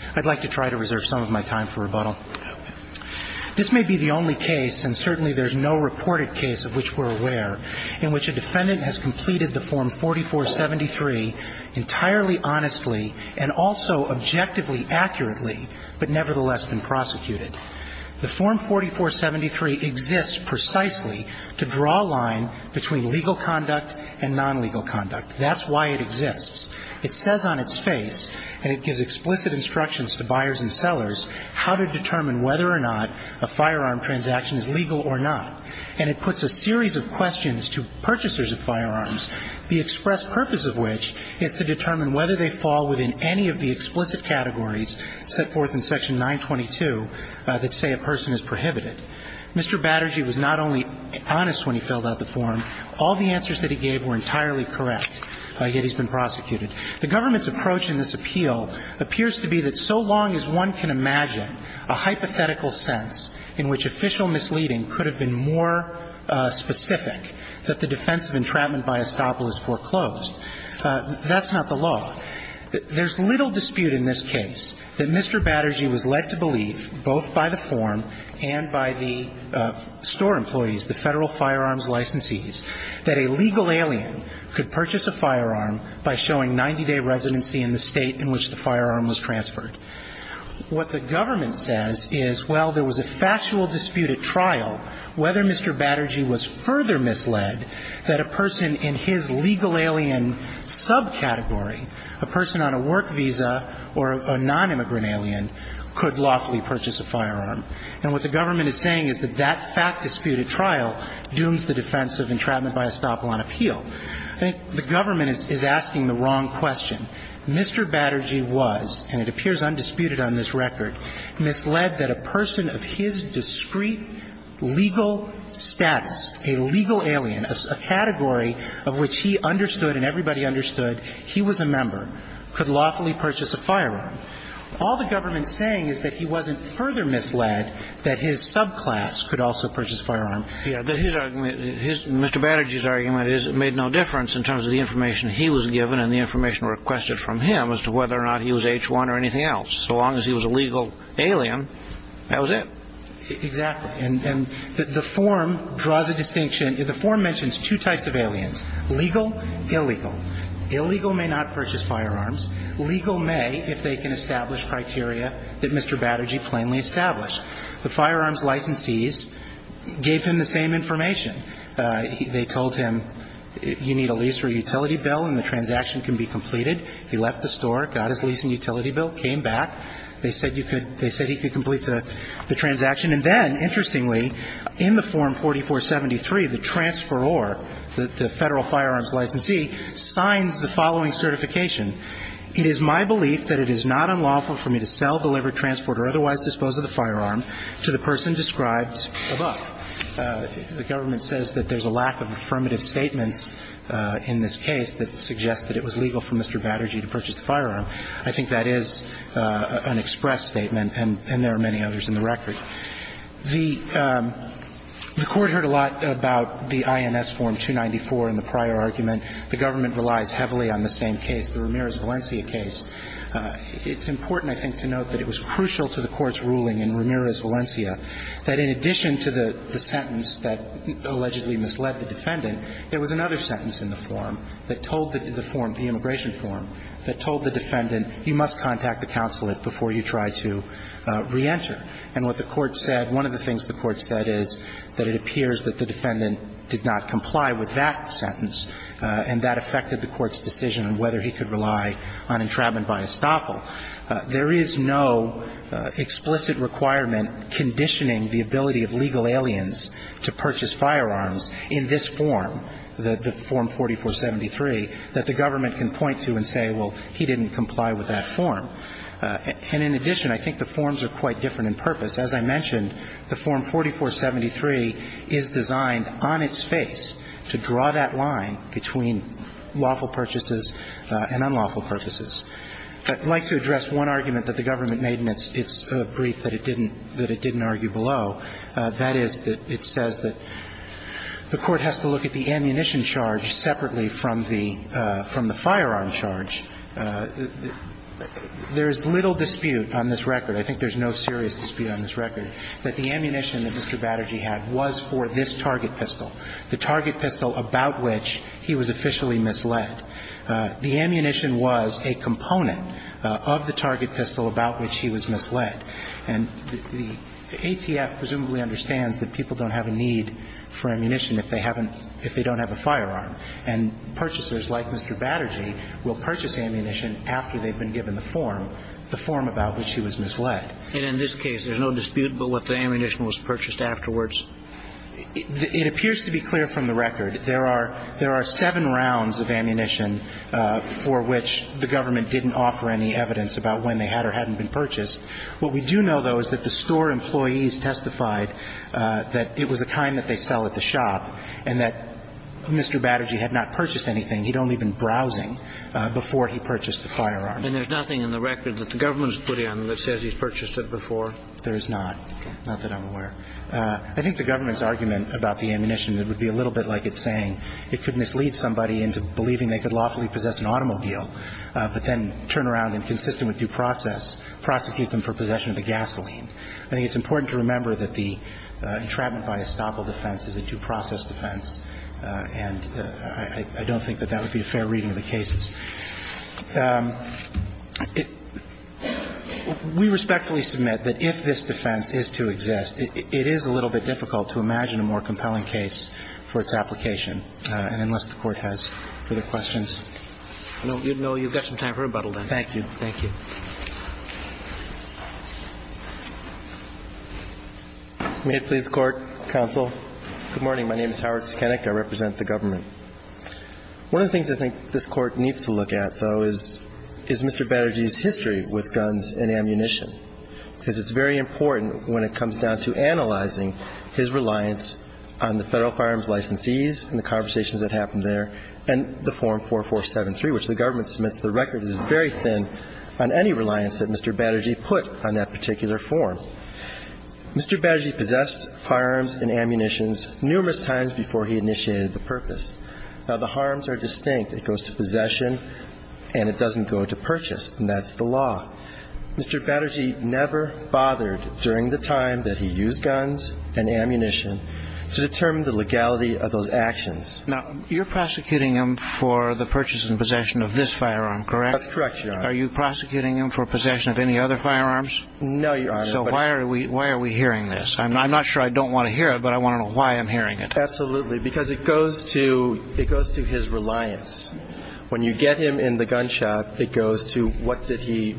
I'd like to try to reserve some of my time for rebuttal. This may be the only case, and certainly there's no reported case of which we're aware, in which a defendant has completed the Form 4473 entirely honestly and also objectively accurately, but nevertheless been prosecuted. The Form 4473 exists precisely to draw a line between legal conduct and non-legal conduct. That's why it exists. It says on its face, and it gives explicit instructions to buyers and sellers, how to determine whether or not a firearm transaction is legal or not. And it puts a series of questions to purchasers of firearms, the express purpose of which is to determine whether they fall within any of the explicit categories set forth in Section 922 that say a person is prohibited. Mr. Batterjee was not only honest when he filled out the form. All the answers that he gave were entirely correct, yet he's been prosecuted. The government's approach in this appeal appears to be that so long as one can imagine a hypothetical sense in which official misleading could have been more specific that the defense of entrapment by estoppel is foreclosed, that's not the law. There's little dispute in this case that Mr. Batterjee was led to believe, both by the form and by the store employees, the Federal Firearms Licensees, that a legal alien could purchase a firearm by showing 90-day residency in the state in which the firearm was transferred. What the government says is, well, there was a factual dispute at trial whether Mr. Batterjee was further misled that a person in his legal alien subcategory, a person on a work visa or a nonimmigrant alien, could lawfully purchase a firearm. And what the government is saying is that that fact disputed trial dooms the defense of entrapment by estoppel on appeal. I think the government is asking the wrong question. Mr. Batterjee was, and it appears undisputed on this record, misled that a person of his discrete legal status, a legal alien, a category of which he understood and everybody understood he was a member, could lawfully purchase a firearm. All the government is saying is that he wasn't further misled that his subclass could also purchase a firearm. Mr. Batterjee's argument is it made no difference in terms of the information he was given and the information requested from him as to whether or not he was H1 or anything else. So long as he was a legal alien, that was it. Exactly. And the form draws a distinction. The form mentions two types of aliens, legal, illegal. Illegal may not purchase firearms. Legal may if they can establish criteria that Mr. Batterjee plainly established. The firearms licensees gave him the same information. They told him you need a lease or utility bill and the transaction can be completed. He left the store, got his lease and utility bill, came back. They said he could complete the transaction. And then, interestingly, in the form 4473, the transferor, the Federal Firearms Licensee, signs the following certification. It is my belief that it is not unlawful for me to sell, deliver, transport or otherwise dispose of the firearm to the person described above. The government says that there's a lack of affirmative statements in this case that suggest that it was legal for Mr. Batterjee to purchase the firearm. I think that is an express statement and there are many others in the record. The Court heard a lot about the INS Form 294 and the prior argument. The government relies heavily on the same case, the Ramirez-Valencia case. It's important, I think, to note that it was crucial to the Court's ruling in Ramirez-Valencia that in addition to the sentence that allegedly misled the defendant, there was another sentence in the form that told the form, the immigration form, that told the defendant you must contact the consulate before you try to reenter. And what the Court said, one of the things the Court said is that it appears that the defendant did not comply with that sentence and that affected the Court's decision on whether he could rely on entrapment by estoppel. There is no explicit requirement conditioning the ability of legal aliens to purchase firearms in this form, the Form 4473, that the government can point to and say, well, he didn't comply with that form. And in addition, I think the forms are quite different in purpose. As I mentioned, the Form 4473 is designed on its face to draw that line between lawful purchases and unlawful purchases. I'd like to address one argument that the government made in its brief that it didn't argue below. That is that it says that the Court has to look at the ammunition charge separately from the firearm charge. There is little dispute on this record, I think there's no serious dispute on this record, that the ammunition that Mr. Batterjee had was for this target pistol, the target pistol about which he was officially misled. The ammunition was a component of the target pistol about which he was misled. And the ATF presumably understands that people don't have a need for ammunition if they haven't – if they don't have a firearm. And purchasers like Mr. Batterjee will purchase ammunition after they've been given the form, the form about which he was misled. And in this case, there's no dispute about what the ammunition was purchased afterwards? It appears to be clear from the record. There are – there are seven rounds of ammunition for which the government didn't offer any evidence about when they had or hadn't been purchased. What we do know, though, is that the store employees testified that it was the kind that they sell at the shop and that Mr. Batterjee had not purchased anything. He'd only been browsing before he purchased the firearm. And there's nothing in the record that the government has put in that says he's purchased it before? There is not. Okay. Not that I'm aware. I think the government's argument about the ammunition would be a little bit like it's saying. It could mislead somebody into believing they could lawfully possess an automobile but then turn around and, consistent with due process, prosecute them for possession of the gasoline. I think it's important to remember that the entrapment by estoppel defense is a due process defense. And I don't think that that would be a fair reading of the cases. We respectfully submit that if this defense is to exist, it is a little bit difficult to imagine a more compelling case for its application, and unless the Court has further questions. No. You've got some time for rebuttal then. Thank you. Thank you. May it please the Court, counsel. Good morning. My name is Howard Skenick. I represent the government. One of the things I think this Court needs to look at, though, is Mr. Baderge's history with guns and ammunition, because it's very important when it comes down to analyzing his reliance on the Federal Firearms Licensees and the conversations that happened there and the Form 4473, which the government submits to the record is very thin on any reliance that Mr. Baderge put on that particular form. Mr. Baderge possessed firearms and ammunitions numerous times before he initiated the purpose. Now, the harms are distinct. It goes to possession and it doesn't go to purchase, and that's the law. Mr. Baderge never bothered during the time that he used guns and ammunition to determine the legality of those actions. Now, you're prosecuting him for the purchase and possession of this firearm, correct? That's correct, Your Honor. Are you prosecuting him for possession of any other firearms? No, Your Honor. So why are we hearing this? I'm not sure I don't want to hear it, but I want to know why I'm hearing it. Absolutely, because it goes to his reliance. When you get him in the gunshot, it goes to what did he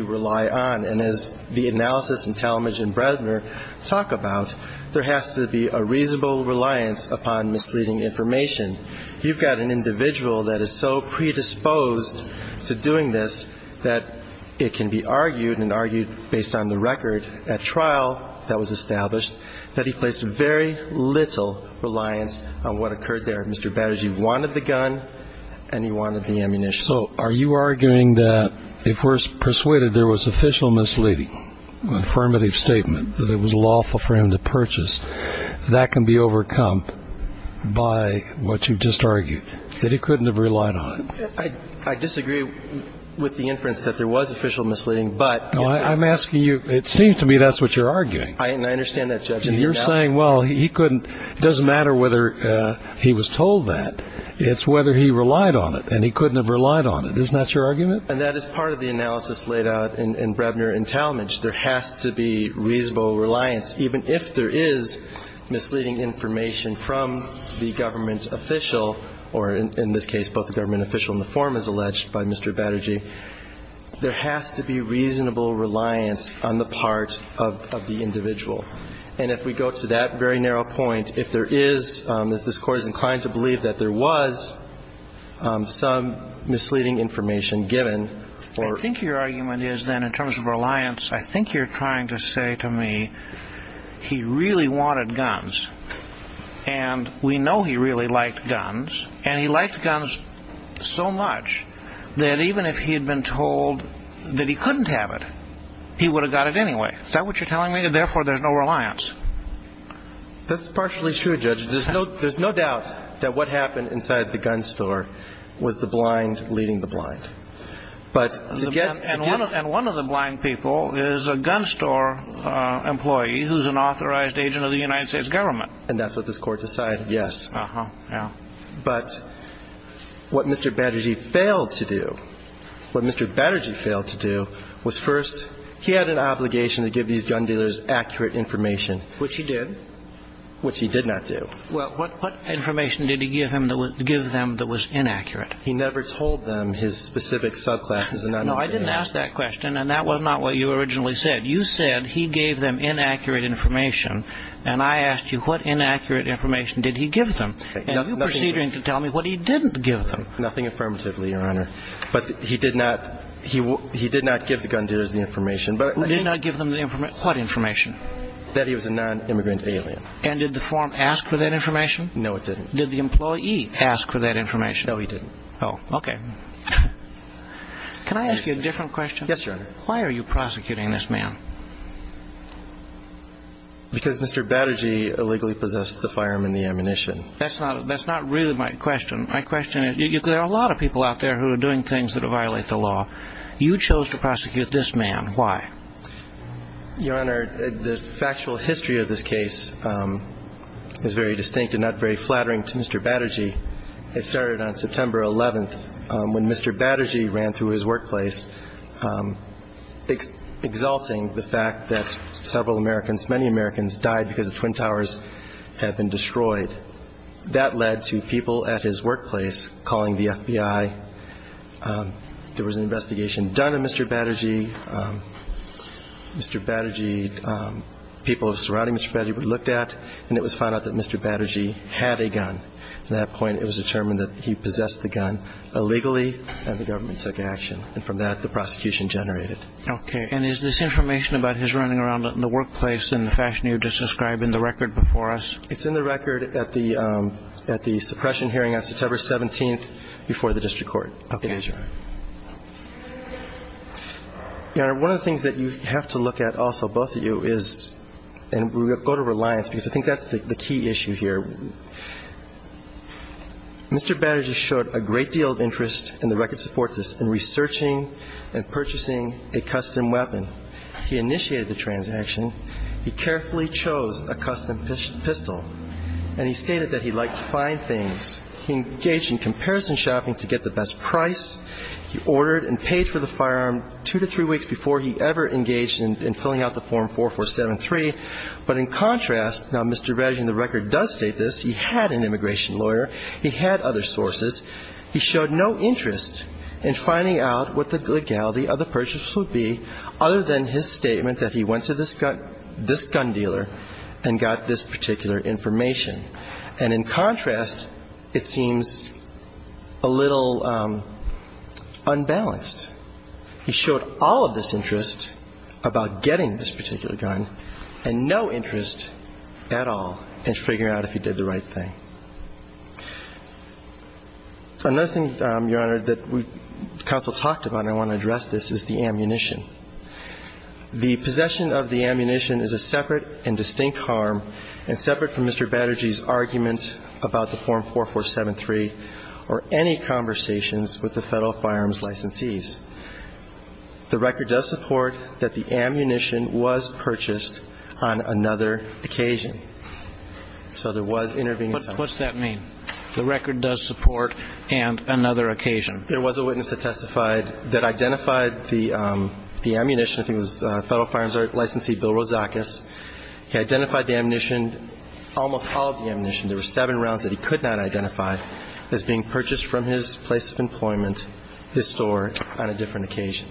rely on. And as the analysis in Talmadge and Bresner talk about, there has to be a reasonable reliance upon misleading information. You've got an individual that is so predisposed to doing this that it can be argued and argued based on the record at trial that was established that he placed very little reliance on what occurred there. Mr. Baderge wanted the gun and he wanted the ammunition. So are you arguing that if we're persuaded there was official misleading, affirmative statement, that it was lawful for him to purchase, that can be overcome by what you've just argued, that he couldn't have relied on it? I disagree with the inference that there was official misleading, but... I'm asking you, it seems to me that's what you're arguing. I understand that, Judge. You're saying, well, he couldn't, it doesn't matter whether he was told that, it's whether he relied on it and he couldn't have relied on it. Isn't that your argument? And that is part of the analysis laid out in Bresner and Talmadge. There has to be reasonable reliance, even if there is misleading information from the government official or, in this case, both the government official and the form as alleged by Mr. Baderge. There has to be reasonable reliance on the part of the individual. And if we go to that very narrow point, if there is, if this Court is inclined to believe that there was some misleading information given or... I think you're trying to say to me, he really wanted guns. And we know he really liked guns. And he liked guns so much that even if he had been told that he couldn't have it, he would have got it anyway. Is that what you're telling me? And therefore, there's no reliance. That's partially true, Judge. There's no doubt that what happened inside the gun store was the blind leading the blind. But to get... And one of the blind people is a gun store employee who's an authorized agent of the United States government. And that's what this Court decided, yes. Uh-huh, yeah. But what Mr. Baderge failed to do, what Mr. Baderge failed to do was first, he had an obligation to give these gun dealers accurate information. Which he did. Which he did not do. Well, what information did he give them that was inaccurate? He never told them his specific subclasses. No, I didn't ask that question, and that was not what you originally said. You said he gave them inaccurate information, and I asked you what inaccurate information did he give them. And you proceeded to tell me what he didn't give them. Nothing affirmatively, Your Honor. But he did not give the gun dealers the information. He did not give them the information. What information? That he was a non-immigrant alien. And did the form ask for that information? No, it didn't. Did the employee ask for that information? No, he didn't. Oh, okay. Can I ask you a different question? Yes, Your Honor. Why are you prosecuting this man? Because Mr. Baderge illegally possessed the firearm and the ammunition. That's not really my question. My question is, there are a lot of people out there who are doing things that violate the law. You chose to prosecute this man. Why? Your Honor, the factual history of this case is very distinct and not very flattering to Mr. Baderge. It started on September 11th when Mr. Baderge ran through his workplace, exalting the fact that several Americans, many Americans died because the Twin Towers had been destroyed. That led to people at his workplace calling the FBI. There was an investigation done of Mr. Baderge. Mr. Baderge, people surrounding Mr. Baderge were looked at, and it was found out that Mr. Baderge had a gun. At that point, it was determined that he possessed the gun illegally, and the government took action. And from that, the prosecution generated. Okay. And is this information about his running around in the workplace in the fashion you're describing in the record before us? It's in the record at the suppression hearing on September 17th before the district court. Okay. Yes, Your Honor. Your Honor, one of the things that you have to look at also, both of you, is, and we'll go to reliance because I think that's the key issue here. Mr. Baderge showed a great deal of interest in the record supports us in researching and purchasing a custom weapon. He initiated the transaction. He carefully chose a custom pistol, and he stated that he liked fine things. He engaged in comparison shopping to get the best price. He ordered and paid for the firearm two to three weeks before he ever engaged in filling out the Form 4473. But in contrast, now, Mr. Baderge in the record does state this. He had an immigration lawyer. He had other sources. He showed no interest in finding out what the legality of the purchase would be other than his statement that he went to this gun dealer and got this particular information. And in contrast, it seems a little unbalanced. He showed all of this interest about getting this particular gun and no interest at all in figuring out if he did the right thing. Another thing, Your Honor, that counsel talked about, and I want to address this, is the ammunition. The possession of the ammunition is a separate and distinct harm and separate from Mr. Baderge's argument about the Form 4473 or any conversations with the Federal firearms licensees. The record does support that the ammunition was purchased on another occasion. So there was intervening time. What's that mean? The record does support and another occasion? There was a witness that testified that identified the ammunition. I think it was Federal firearms licensee Bill Rozakis. He identified the ammunition, almost all of the ammunition. There were seven rounds that he could not identify as being purchased from his place of employment, his store, on a different occasion.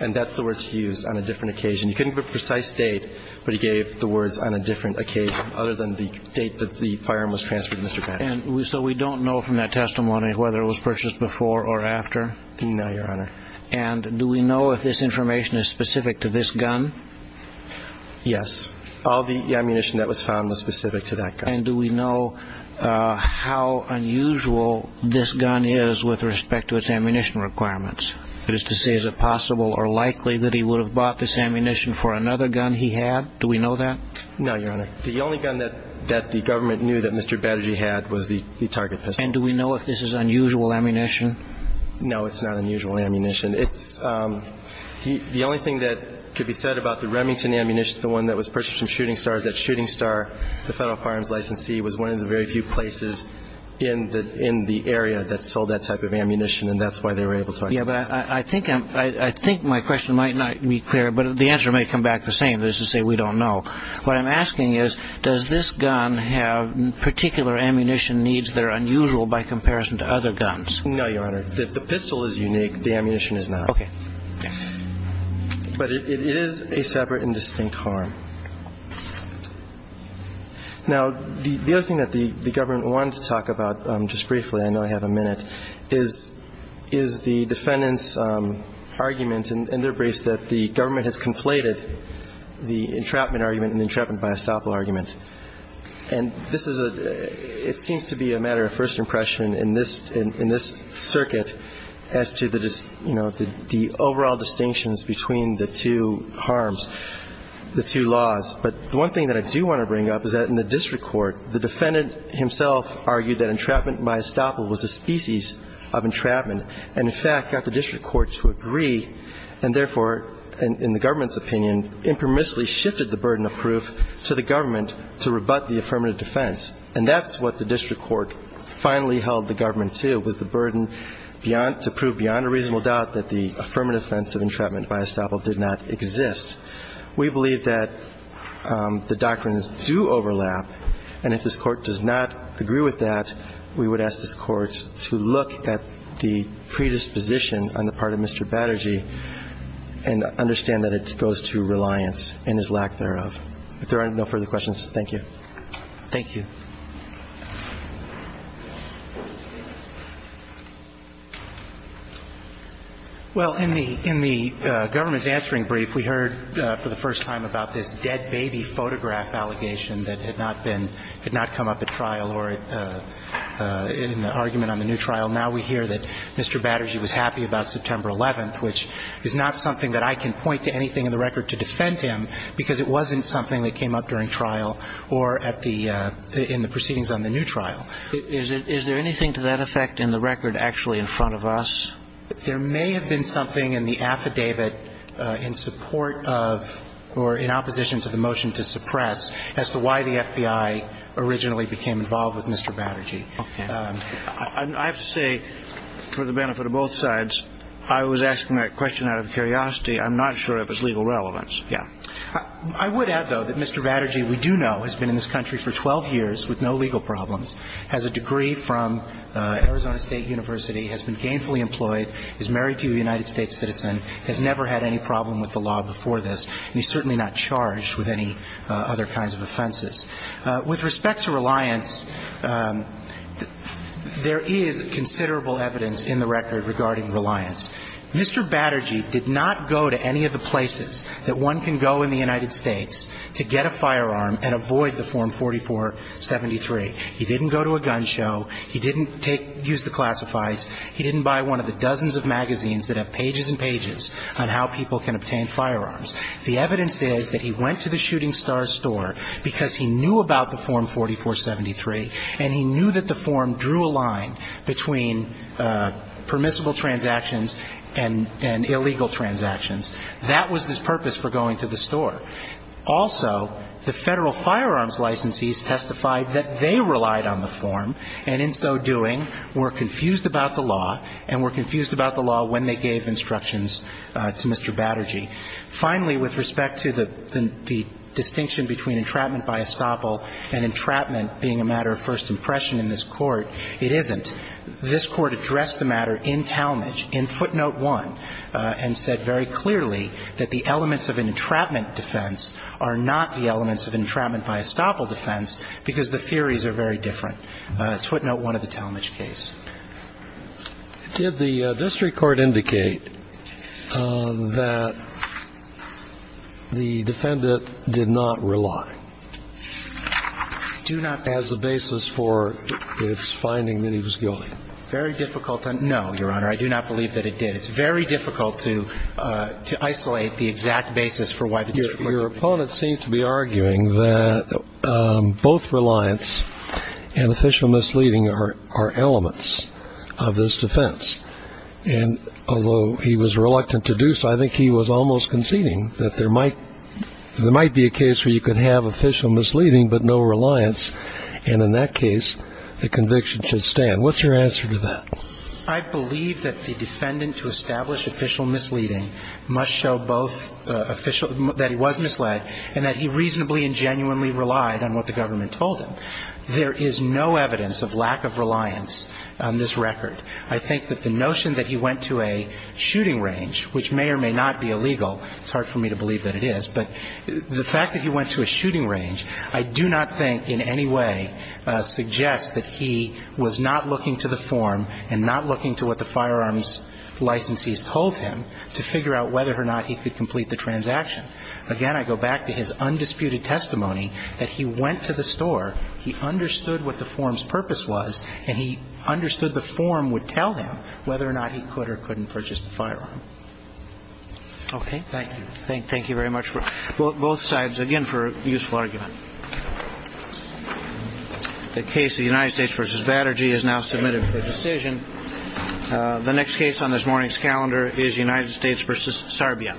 And that's the words he used, on a different occasion. He couldn't give a precise date, but he gave the words on a different occasion other than the date that the firearm was transferred to Mr. Baderge. And so we don't know from that testimony whether it was purchased before or after? No, Your Honor. And do we know if this information is specific to this gun? Yes. All the ammunition that was found was specific to that gun. And do we know how unusual this gun is with respect to its ammunition requirements? That is to say, is it possible or likely that he would have bought this ammunition for another gun he had? Do we know that? No, Your Honor. The only gun that the government knew that Mr. Baderge had was the target pistol. And do we know if this is unusual ammunition? No, it's not unusual ammunition. The only thing that could be said about the Remington ammunition, the one that was purchased from Shooting Star, is that Shooting Star, the Federal firearms licensee, was one of the very few places in the area that sold that type of ammunition. And that's why they were able to identify it. Yeah, but I think my question might not be clear, but the answer may come back the same. That is to say, we don't know. What I'm asking is, does this gun have particular ammunition needs that are unusual by comparison to other guns? No, Your Honor. The pistol is unique. The ammunition is not. Okay. But it is a separate and distinct harm. Now, the other thing that the government wanted to talk about just briefly, I know I have a minute, is the defendant's argument in their briefs that the government has conflated the entrapment argument and the entrapment by estoppel argument. And this is a – it seems to be a matter of first impression in this circuit as to the, you know, the overall distinctions between the two harms, the two laws. But the one thing that I do want to bring up is that in the district court, the defendant himself argued that entrapment by estoppel was a species of entrapment and, in fact, got the district court to agree and, therefore, in the government's opinion, impermissibly shifted the burden of proof to the government to rebut the affirmative defense. And that's what the district court finally held the government to, was the burden beyond – to prove beyond a reasonable doubt that the affirmative defense of entrapment by estoppel did not exist. We believe that the doctrines do overlap, and if this Court does not agree with that, we would ask this Court to look at the predisposition on the part of Mr. Batterji and understand that it goes to reliance and his lack thereof. If there are no further questions, thank you. Thank you. Well, in the government's answering brief, we heard for the first time about this dead baby photograph allegation that had not been – had not come up at trial or in the argument on the new trial. Now we hear that Mr. Batterji was happy about September 11th, which is not something that I can point to anything in the record to defend him because it wasn't something that came up during trial or at the – in the proceedings on the new trial. Is there anything to that effect in the record actually in front of us? There may have been something in the affidavit in support of or in opposition to the motion to suppress as to why the FBI originally became involved with Mr. Batterji. Okay. I have to say, for the benefit of both sides, I was asking that question out of curiosity. I'm not sure if it's legal relevance. Yeah. I would add, though, that Mr. Batterji, we do know, has been in this country for 12 years with no legal problems, has a degree from Arizona State University, has been gainfully employed, is married to a United States citizen, has never had any problem with the law before this, and he's certainly not charged with any other kinds of offenses. With respect to reliance, there is considerable evidence in the record regarding reliance. Mr. Batterji did not go to any of the places that one can go in the United States to get a firearm and avoid the Form 4473. He didn't go to a gun show. He didn't take – use the classifieds. He didn't buy one of the dozens of magazines that have pages and pages on how people can obtain firearms. The evidence is that he went to the Shooting Stars store because he knew about the Form 4473, and he knew that the form drew a line between permissible transactions and illegal transactions. That was his purpose for going to the store. Also, the Federal firearms licensees testified that they relied on the form and, in so doing, were confused about the law and were confused about the law when they gave instructions to Mr. Batterji. Finally, with respect to the distinction between entrapment by estoppel and entrapment being a matter of first impression in this Court, it isn't. This Court addressed the matter in Talmadge, in footnote 1, and said very clearly that the elements of an entrapment defense are not the elements of entrapment by estoppel defense because the theories are very different. It's footnote 1 of the Talmadge case. Did the district court indicate that the defendant did not rely? I do not. As a basis for its finding that he was guilty. Very difficult to know, Your Honor. I do not believe that it did. It's very difficult to isolate the exact basis for why the district court did it. Your opponent seems to be arguing that both reliance and official misleading are elements of this defense. And although he was reluctant to do so, I think he was almost conceding that there might be a case where you could have official misleading but no reliance, and in that case, the conviction should stand. What's your answer to that? I believe that the defendant, to establish official misleading, must show both that he was misled and that he reasonably and genuinely relied on what the government told him. There is no evidence of lack of reliance on this record. I think that the notion that he went to a shooting range, which may or may not be illegal It's hard for me to believe that it is. But the fact that he went to a shooting range, I do not think in any way suggests that he was not looking to the form and not looking to what the firearms licensees told him to figure out whether or not he could complete the transaction. Again, I go back to his undisputed testimony that he went to the store, he understood what the form's purpose was, and he understood the form would tell him whether or not he could or couldn't purchase the firearm. Okay. Thank you. Thank you very much. Both sides, again, for a useful argument. The case of United States v. Vatterji is now submitted for decision. The next case on this morning's calendar is United States v. Sarbia.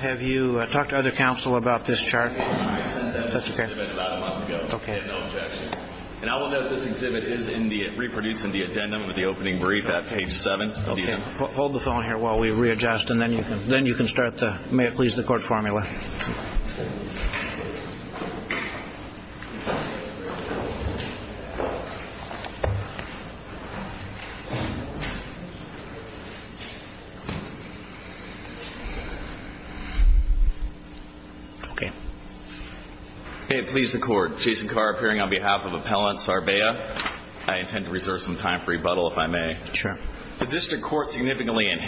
Have you talked to other counsel about this chart? I sent them this exhibit about a month ago. Okay. They have no objection. And I will note this exhibit is reproduced in the agenda with the opening brief at page 7. Okay. Hold the phone here while we readjust, and then you can start the, may it please the court, formula. Okay. May it please the court, Jason Carr appearing on behalf of Appellant Sarbia. I intend to reserve some time for rebuttal, if I may. Sure. The district court significantly enhanced the